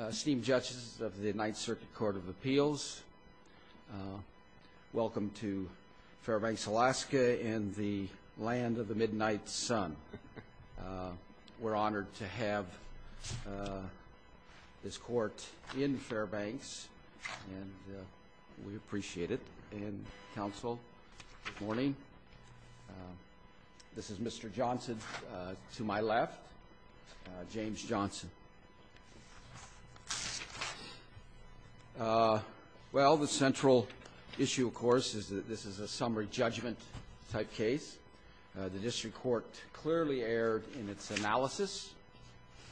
Esteemed judges of the Ninth Circuit Court of Appeals, welcome to Fairbanks, Alaska, and the land of the midnight sun. We're honored to have this court in Fairbanks, and we appreciate it. And counsel, good morning. This is Mr. Johnson to my left, James Johnson. Well, the central issue, of course, is that this is a summary judgment type case. The district court clearly erred in its analysis,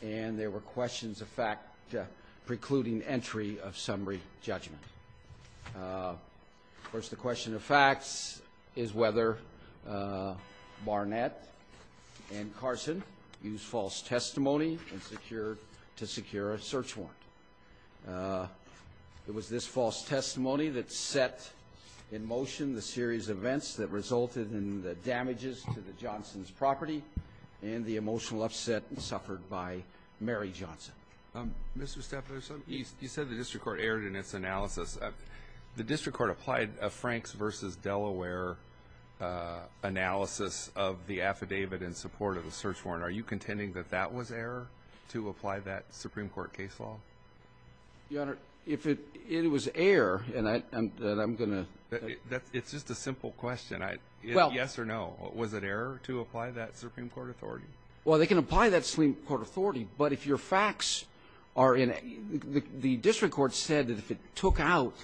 and there were questions of fact precluding entry of summary judgment. Of course, the question of facts is whether Barnett and Carson used false testimony and secured to secure a search warrant. It was this false testimony that set in motion the series of events that resulted in the damages to the Johnson's property and the emotional upset suffered by Mary Johnson. Mr. Stefanos, you said the district court erred in its analysis. The district court applied a Franks versus Delaware analysis of the affidavit in support of the search warrant. Are you contending that that was error to apply that Supreme Court case law? Your Honor, if it was error, then I'm going to. It's just a simple question. Yes or no, was it error to apply that Supreme Court authority? Well, they can apply that Supreme Court authority, but if your facts are in it, the district court said that if it took out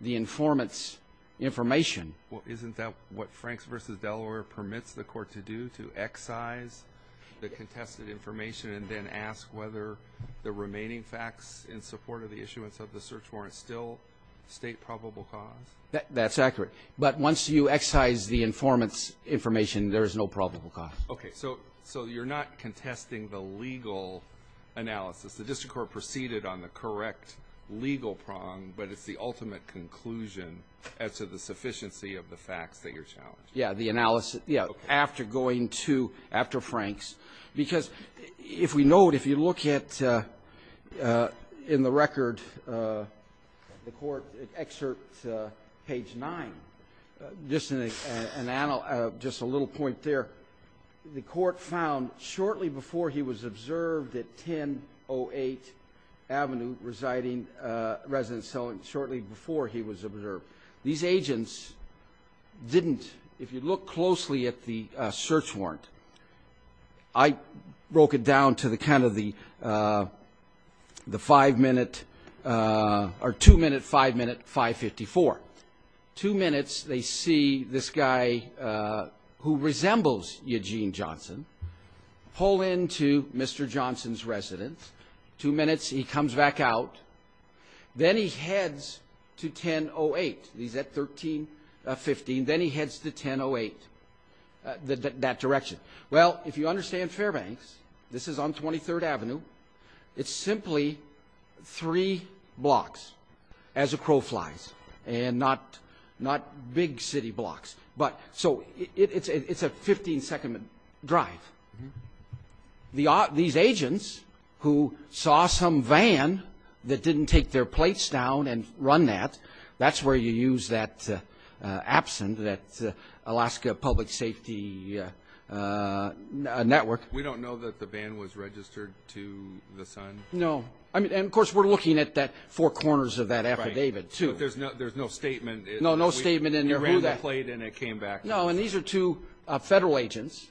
the informant's information. Well, isn't that what Franks versus Delaware permits the court to do, to excise the contested information and then ask whether the remaining facts in support of the issuance of the search warrant still state probable cause? That's accurate. But once you excise the informant's information, there is no probable cause. OK, so you're not contesting the legal analysis. The district court proceeded on the correct legal prong, but it's the ultimate conclusion as to the sufficiency of the facts that you're challenging. Yeah, the analysis, yeah, after going to, after Franks. Because if we note, if you look at in the record, the court excerpt page 9, just an analog, just a little point there, the court found shortly before he was observed at 1008 Avenue residing, residence selling, shortly before he was observed. These agents didn't, if you look closely at the search warrant, I broke it down to the kind of the five minute, or two minute, five minute, 554. Two minutes, they see this guy who resembles Eugene Johnson, pull into Mr. Johnson's residence. Two minutes, he comes back out. Then he heads to 1008, he's at 1315, then he heads to 1008, that direction. Well, if you understand Fairbanks, this is on 23rd Avenue, it's simply three blocks as a crow flies, and not big city blocks. But so it's a 15 second drive. These agents who saw some van that didn't take their plates down and run that, that's where you use that absent, that Alaska Public Safety Network. We don't know that the van was registered to the sun? No. I mean, and of course, we're looking at that four corners of that affidavit too. But there's no statement. No, no statement in there. He ran the plate and it came back. No, and these are two federal agents.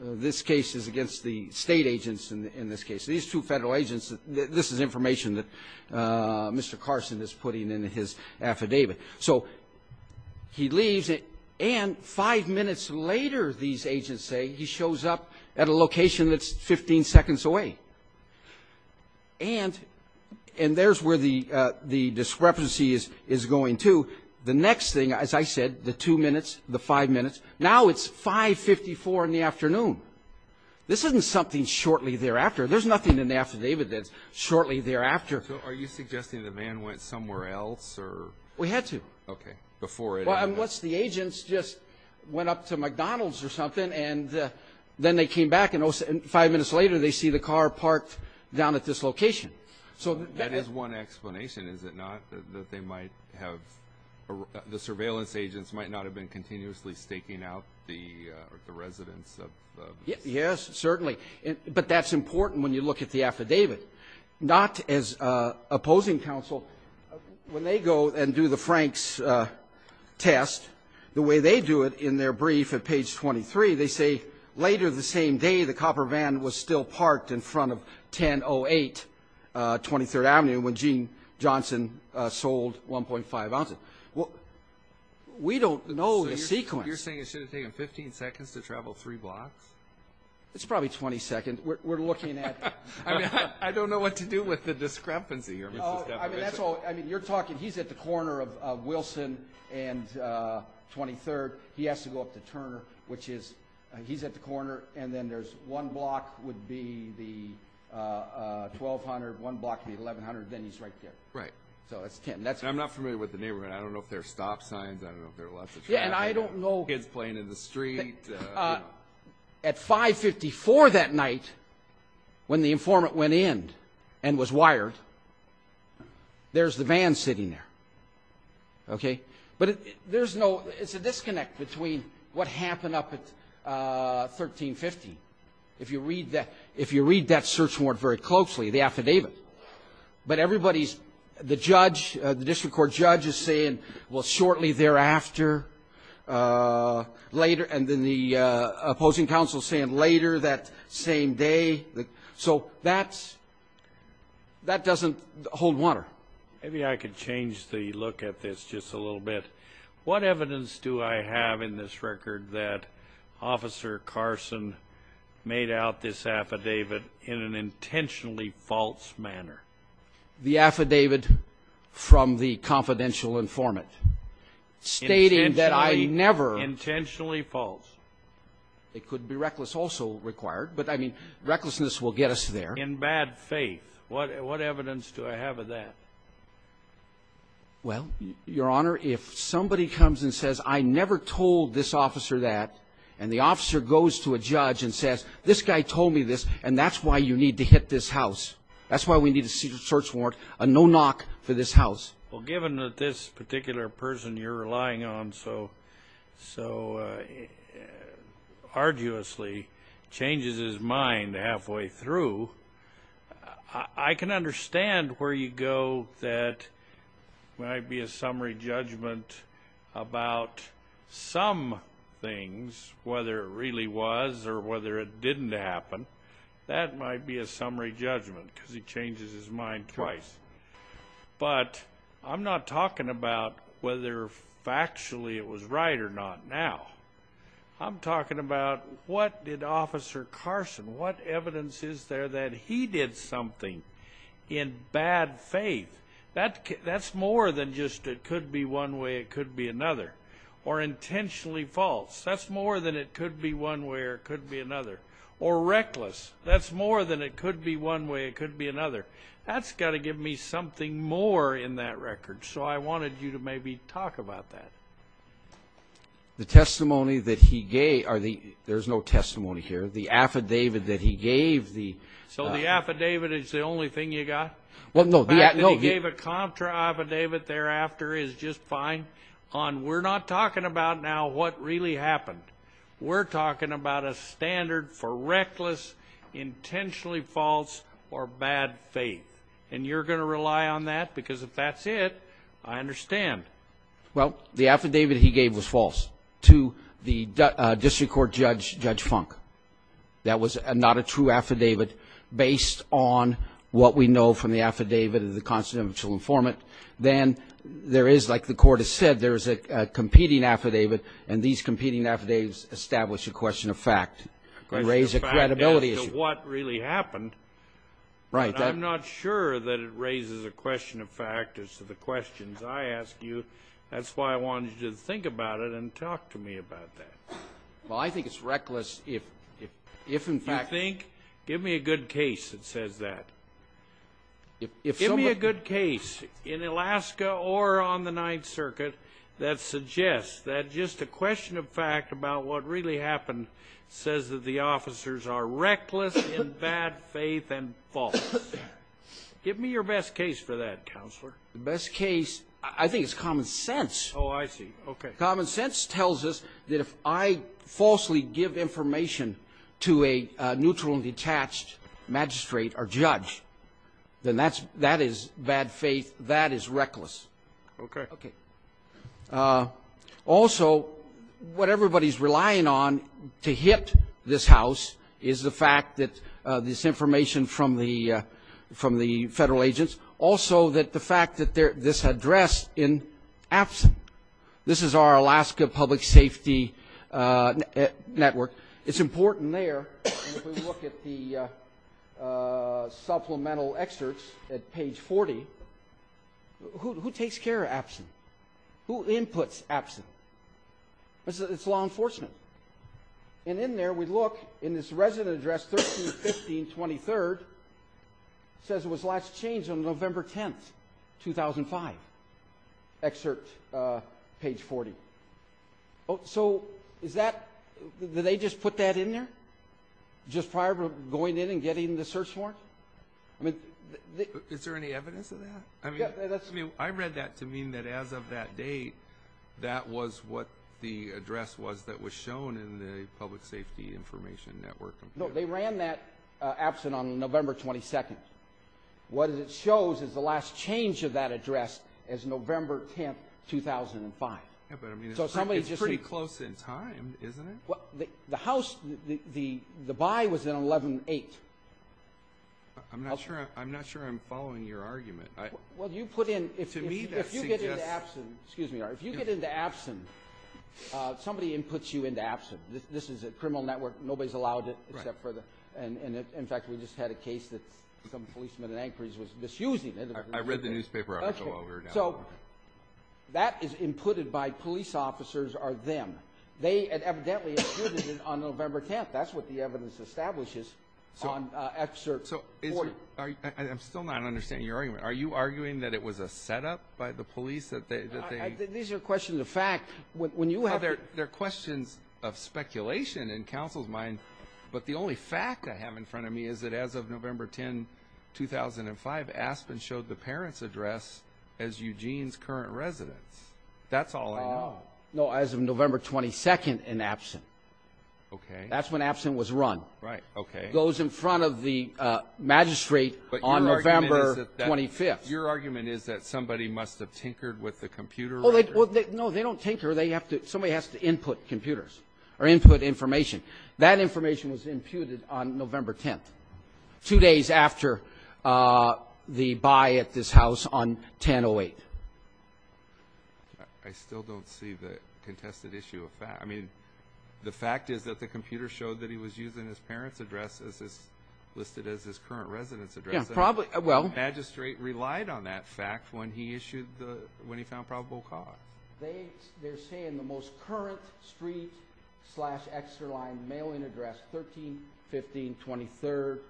This case is against the state agents in this case. These two federal agents, this is information that Mr. Carson is putting in his affidavit. So he leaves, and five minutes later, these agents say he shows up at a location that's 15 seconds away. And there's where the discrepancy is going to. The next thing, as I said, the two minutes, the five minutes. Now it's 5.54 in the afternoon. This isn't something shortly thereafter. There's nothing in the affidavit that's shortly thereafter. So are you suggesting the van went somewhere else, or? We had to. Okay, before it happened. Unless the agents just went up to McDonald's or something, and then they came back, and five minutes later, they see the car parked down at this location. So that is one explanation, is it not? That they might have, the surveillance agents might not have been continuously staking out the residents of the- Yes, certainly. But that's important when you look at the affidavit. Not as opposing counsel. When they go and do the Frank's test, the way they do it in their brief at page 23, they say, later the same day, the copper van was still parked in front of 1008 23rd Avenue when Gene Johnson sold 1.5 ounces. Well, we don't know the sequence. You're saying it should have taken 15 seconds to travel three blocks? It's probably 20 seconds. We're looking at- I don't know what to do with the discrepancy here. I mean, that's all. I mean, you're talking, he's at the corner of Wilson and 23rd. He has to go up to Turner, which is, he's at the corner, and then there's one block would be the 1,200, one block would be the 1,100. Then he's right there. Right. So it's 10, that's- I'm not familiar with the neighborhood. I don't know if there are stop signs. I don't know if there are lots of traffic. Yeah, and I don't know- Kids playing in the street. At 554 that night, when the informant went in and was wired, there's the van sitting there, okay? But there's no, it's a disconnect between what happened up at 1350. If you read that search warrant very closely, the affidavit. But everybody's, the judge, the district court judge is saying, well, shortly thereafter, later, and then the opposing counsel saying later that same day. So that's, that doesn't hold water. Maybe I could change the look at this just a little bit. What evidence do I have in this record that Officer Carson made out this affidavit in an intentionally false manner? The affidavit from the confidential informant stating that I never- Intentionally false. It could be reckless also required, but I mean, recklessness will get us there. In bad faith. What evidence do I have of that? Well, your honor, if somebody comes and says, I never told this officer that, and the officer goes to a judge and says, this guy told me this, and that's why you need to hit this house. That's why we need a secret search warrant, a no knock for this house. Well, given that this particular person you're relying on so, so arduously changes his mind halfway through, I can understand where you go that might be a summary judgment about some things, whether it really was or whether it didn't happen. That might be a summary judgment, because he changes his mind twice. But I'm not talking about whether factually it was right or not now. I'm talking about what did Officer Carson, what evidence is there that he did something in bad faith? That's more than just it could be one way, it could be another. Or intentionally false, that's more than it could be one way or it could be another. Or reckless, that's more than it could be one way, it could be another. That's got to give me something more in that record. So I wanted you to maybe talk about that. The testimony that he gave, there's no testimony here. The affidavit that he gave, the- So the affidavit is the only thing you got? Well, no, the affidavit- The fact that he gave a contra affidavit thereafter is just fine. On we're not talking about now what really happened. We're talking about a standard for reckless, intentionally false, or bad faith. And you're going to rely on that because if that's it, I understand. Well, the affidavit he gave was false to the district court judge, Judge Funk. That was not a true affidavit based on what we know from the affidavit of the constitutional informant. Then there is, like the court has said, there is a competing affidavit. And these competing affidavits establish a question of fact and raise a credibility issue. A question of fact as to what really happened, but I'm not sure that it raises a question of fact as to the questions I ask you. That's why I wanted you to think about it and talk to me about that. Well, I think it's reckless if in fact- You think? Give me a good case that says that. Give me a good case in Alaska or on the Ninth Circuit that suggests that just a question of fact about what really happened says that the officers are reckless in bad faith and false. Give me your best case for that, Counselor. The best case, I think it's common sense. Oh, I see, okay. Common sense tells us that if I falsely give information to a neutral and detached magistrate or judge, then that's bad faith. That is reckless. Okay. Okay. Also, what everybody is relying on to hit this House is the fact that this information from the Federal agents, also that the fact that this address in absent. This is our Alaska Public Safety Network. It's important there, if we look at the supplemental excerpts at page 40, who takes care of absent? Who inputs absent? It's law enforcement. And in there, we look in this resident address 13, 15, 23rd says it was last changed on November 10th, 2005. Excerpt page 40. So is that, did they just put that in there just prior to going in and getting the search warrant? I mean- Is there any evidence of that? I mean, I read that to mean that as of that date, that was what the address was that was shown in the Public Safety Information Network. No, they ran that absent on November 22nd. What it shows is the last change of that address as November 10th, 2005. Yeah, but I mean- So somebody just- It's pretty close in time, isn't it? Well, the House, the by was in 11-8. I'm not sure I'm following your argument. Well, you put in- To me, that suggests- If you get into absent, excuse me, if you get into absent, somebody inputs you into absent. This is a criminal network. Nobody's allowed it except for the- I read the newspaper article while we were down there. So that is inputted by police officers are them. They had evidently included it on November 10th. That's what the evidence establishes on excerpt 40. I'm still not understanding your argument. Are you arguing that it was a setup by the police that they- These are questions of fact. When you have- They're questions of speculation in counsel's mind. But the only fact I have in front of me is that as of November 10, 2005, Aspen showed the parent's address as Eugene's current residence. That's all I know. No, as of November 22nd in absent. Okay. That's when absent was run. Right. Okay. Goes in front of the magistrate on November 25th. Your argument is that somebody must have tinkered with the computer- Well, no, they don't tinker. Somebody has to input computers or input information. That information was imputed on November 10th, two days after the buy at this house on 1008. I still don't see the contested issue of fact. I mean, the fact is that the computer showed that he was using his parent's address as listed as his current residence address. Yeah, probably. Well- The magistrate relied on that fact when he issued the- when he found probable cause. They're saying the most current street slash extra line mailing address, 13-15-23rd,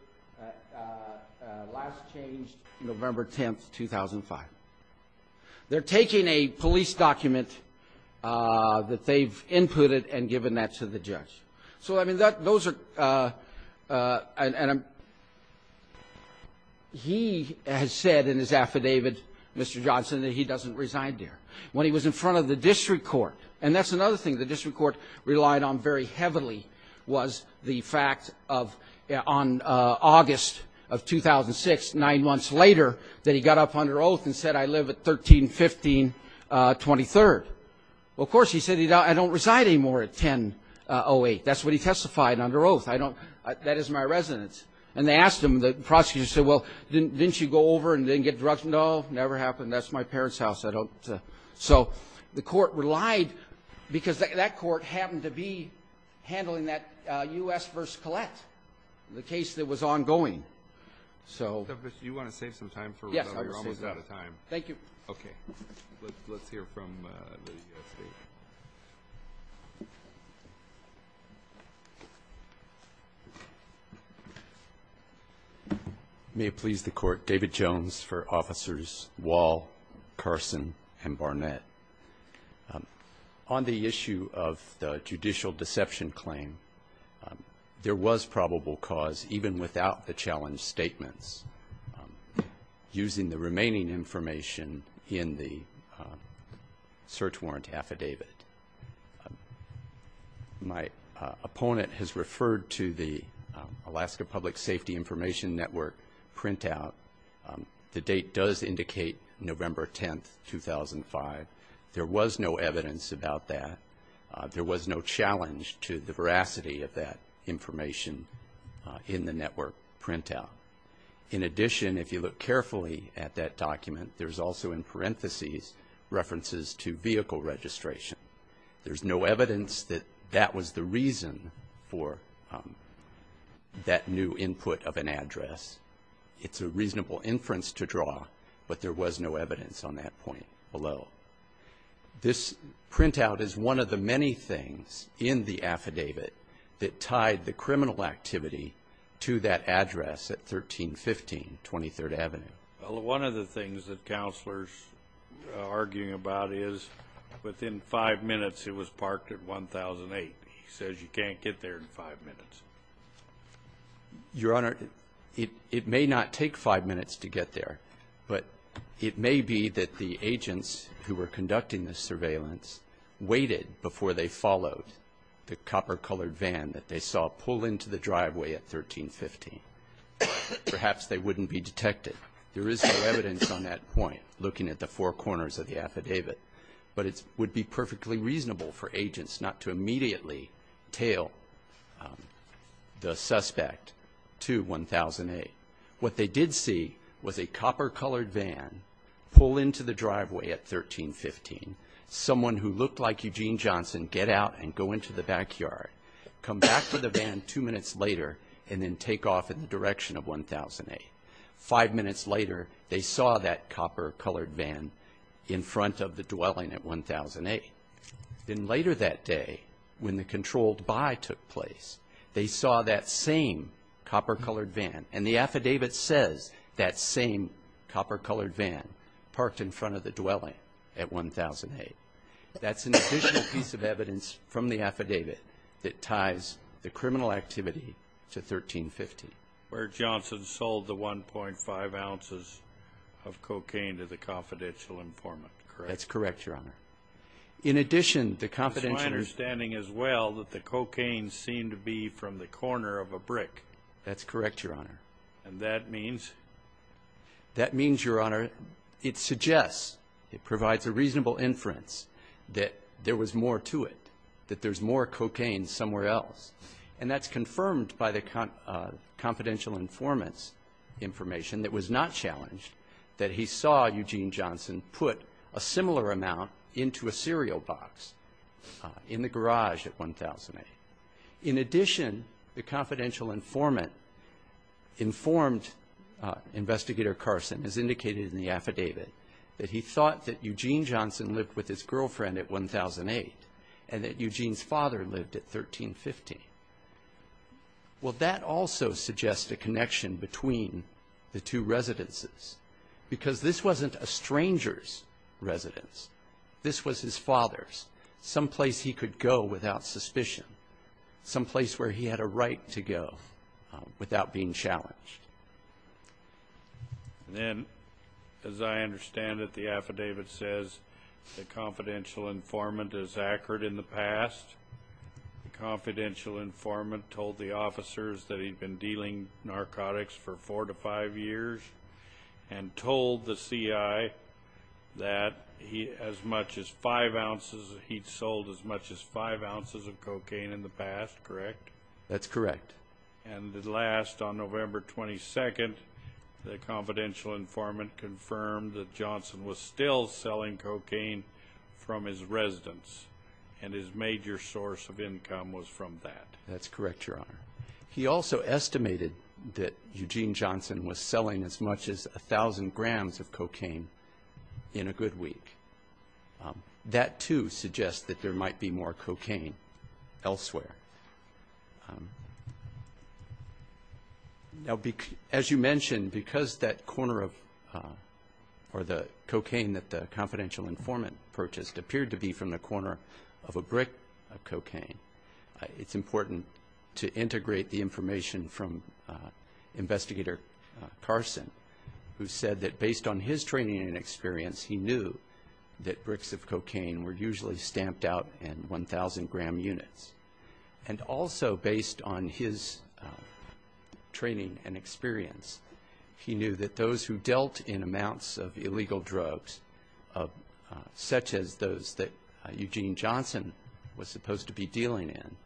last changed November 10th, 2005. They're taking a police document that they've inputted and given that to the judge. So, I mean, that- those are- and I'm- he has said in his affidavit, Mr. Johnson, that he doesn't reside there. When he was in front of the district court, and that's another thing the district court relied on very heavily, was the fact of- on August of 2006, nine months later, that he got up under oath and said, I live at 13-15-23rd. Well, of course, he said, I don't reside anymore at 10-08. That's what he testified under oath. I don't- that is my residence. And they asked him, the prosecutor said, well, didn't you go over and didn't get drug- No, never happened. That's my parent's house. I don't- so, the court relied- because that court happened to be handling that U.S. v. Collette, the case that was ongoing. So- So, you want to save some time for- Yes, I will save some time. Thank you. Okay. Let's hear from the state. May it please the court. David Jones for Officers Wall, Carson, and Barnett. On the issue of the judicial deception claim, there was probable cause, even without the challenge statements, using the remaining information in the search warrant affidavit. My opponent has referred to the Alaska Public Safety Information Network printout. The date does indicate November 10th, 2005. There was no evidence about that. There was no challenge to the veracity of that information in the network printout. In addition, if you look carefully at that document, there's also, in parentheses, references to vehicle registration. There's no evidence that that was the reason for that new input of an address. It's a reasonable inference to draw, but there was no evidence on that point below. This printout is one of the many things in the affidavit that tied the criminal activity to that address at 1315 23rd Avenue. Well, one of the things that Counselor's arguing about is within five minutes it was parked at 1008. He says you can't get there in five minutes. Your Honor, it may not take five minutes to get there, but it may be that the agents who were conducting the surveillance waited before they followed the copper-colored van that they saw pull into the driveway at 1315. Perhaps they wouldn't be detected. There is no evidence on that point, looking at the four corners of the affidavit, but it would be perfectly reasonable for agents not to immediately tail the suspect to 1008. What they did see was a copper-colored van pull into the driveway at 1315. Someone who looked like Eugene Johnson get out and go into the backyard, come back to the van two minutes later, and then take off in the direction of 1008. Five minutes later, they saw that copper-colored van in front of the dwelling at 1008. Then later that day, when the controlled buy took place, they saw that same copper-colored van, and the affidavit says that same copper-colored van parked in front of the dwelling at 1008. That's an additional piece of evidence from the affidavit that ties the criminal activity to 1315. Where Johnson sold the 1.5 ounces of cocaine to the confidential informant, correct? That's correct, Your Honor. In addition, the confidential informant That's my understanding as well that the cocaine seemed to be from the corner of a brick. That's correct, Your Honor. And that means? That means, Your Honor, it suggests, it provides a reasonable inference that there was more to it, that there's more cocaine somewhere else. And that's confirmed by the confidential informant's information that was not challenged, that he saw Eugene Johnson put a similar amount into a cereal box in the garage at 1008. In addition, the confidential informant informed Investigator Carson, as indicated in the affidavit, that he thought that Eugene Johnson lived with his girlfriend at 1008 and that Eugene's father lived at 1315. Well, that also suggests a connection between the two residences, because this wasn't a stranger's residence. This was his father's, someplace he could go without suspicion, someplace where he had a right to go without being challenged. And then, as I understand it, the affidavit says the confidential informant is accurate in the past. The confidential informant told the officers that he'd been dealing narcotics for four to five years and told the CI that he'd sold as much as five ounces of cocaine in the past, correct? That's correct. And at last, on November 22nd, the confidential informant confirmed that Johnson was still selling cocaine from his residence and his major source of income was from that. That's correct, Your Honor. He also estimated that Eugene Johnson was selling as much as a thousand grams of cocaine in a good week. That, too, suggests that there might be more cocaine elsewhere. Now, as you mentioned, because that corner of, or the cocaine that the confidential informant purchased appeared to be from the corner of a brick of cocaine, it's important to integrate the information from Investigator Carson, who said that based on his training and experience, he knew that bricks of cocaine were usually stamped out in 1,000-gram units. And also, based on his training and experience, he knew that those who dealt in amounts of illegal drugs, such as those that Eugene Johnson was supposed to be dealing in,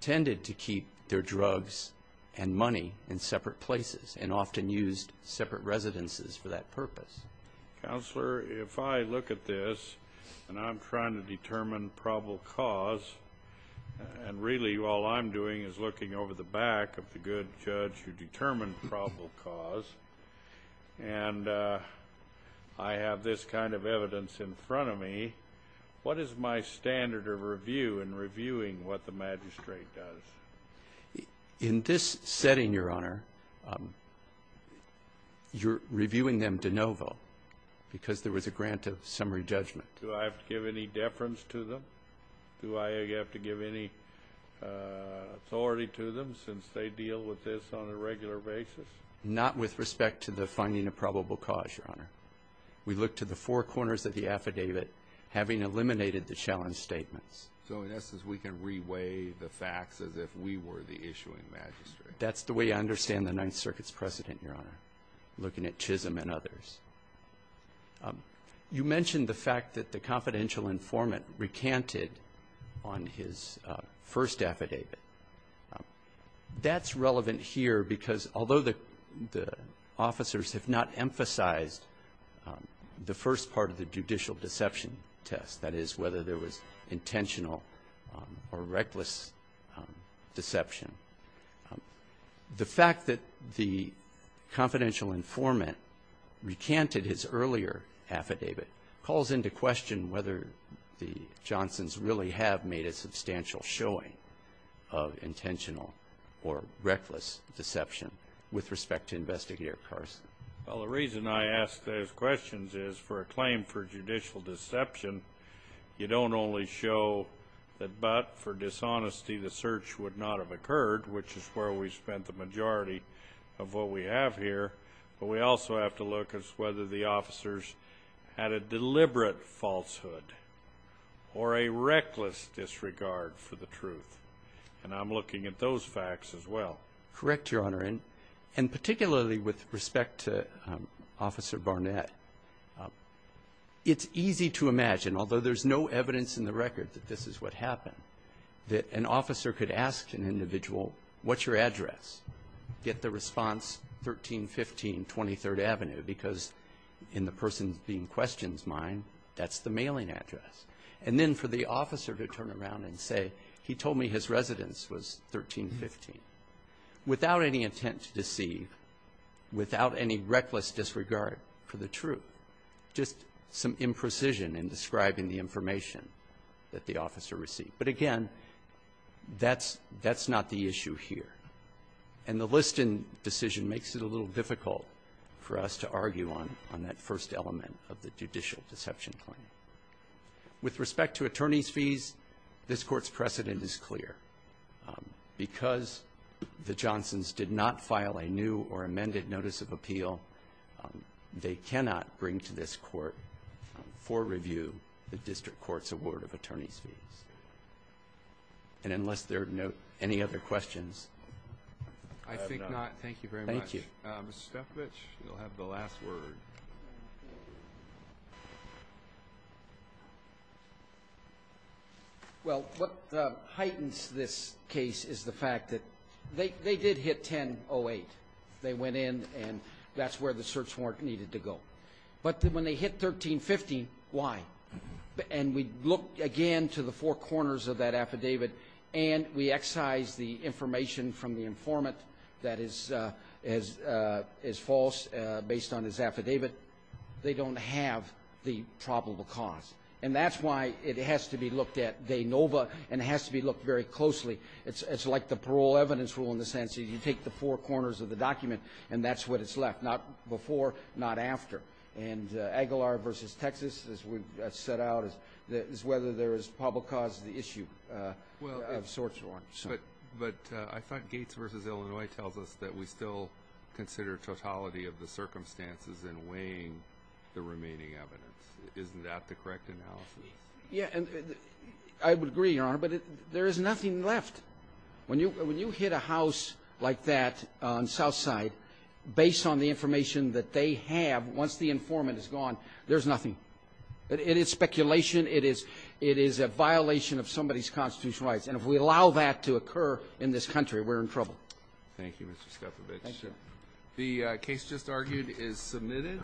tended to keep their drugs and money in separate places and often used separate residences for that purpose. Counselor, if I look at this and I'm trying to determine probable cause, and really all I'm doing is looking over the back of the good judge who determined probable cause, and I have this kind of evidence in front of me, what is my standard of review in reviewing what the magistrate does? In this setting, Your Honor, you're reviewing them de novo because there was a grant of summary judgment. Do I have to give any deference to them? Do I have to give any authority to them since they deal with this on a regular basis? Not with respect to the finding of probable cause, Your Honor. We look to the four corners of the affidavit, having eliminated the challenge statements. So, in essence, we can re-weigh the facts as if we were the issuing magistrate? That's the way I understand the Ninth Circuit's precedent, Your Honor, looking at Chisholm and others. You mentioned the fact that the confidential informant recanted on his first affidavit. That's relevant here because although the officers have not emphasized the first part of the judicial deception test, that is, whether there was intentional or reckless deception, the fact that the confidential informant recanted his earlier affidavit calls into question whether the Johnsons really have made a substantial showing of intentional or reckless deception with respect to Investigator Carson. Well, the reason I ask those questions is for a claim for judicial deception, you don't only show that but for dishonesty the search would not have occurred, which is where we spent the majority of what we have here, but we also have to look as whether the officers had a deliberate falsehood or a reckless disregard for the truth, and I'm looking at those facts as well. Correct, Your Honor, and particularly with respect to Officer Barnett, it's easy to imagine, although there's no evidence in the record that this is what happened, that an officer could ask an individual, what's your address? Get the response, 1315 23rd Avenue, because in the person being questioned's mind, that's the mailing address. And then for the officer to turn around and say, he told me his residence was 1315, without any intent to deceive, without any reckless disregard for the truth, just some imprecision in describing the information that the officer received. But again, that's not the issue here. And the Liston decision makes it a little difficult for us to argue on that first element of the judicial deception claim. With respect to attorney's fees, this Court's precedent is clear. Because the Johnsons did not file a new or amended notice of appeal, they cannot bring to this Court, for review, the District Court's award of attorney's fees. And unless there are any other questions, I have none. I think not. Thank you very much. Thank you. Mr. Stefvich, you'll have the last word. Well, what heightens this case is the fact that they did hit 1008. They went in, and that's where the search warrant needed to go. But when they hit 1315, why? And we look again to the four corners of that affidavit, and we excise the information from the informant that is false, based on his affidavit. They don't have the probable cause. And that's why it has to be looked at de novo, and it has to be looked very closely. It's like the parole evidence rule, in the sense that you take the four corners of the document, and that's what is left, not before, not after. And Aguilar v. Texas, as we've set out, is whether there is probable cause of the issue of search warrants. But I thought Gates v. Illinois tells us that we still consider totality of the circumstances in weighing the remaining evidence. Isn't that the correct analysis? Yeah, and I would agree, Your Honor, but there is nothing left. When you hit a house like that on Southside, based on the information that they have, once the informant is gone, there's nothing. It is speculation. It is a violation of somebody's constitutional rights. And if we allow that to occur in this country, we're in trouble. Thank you, Mr. Skepovich. The case just argued is submitted.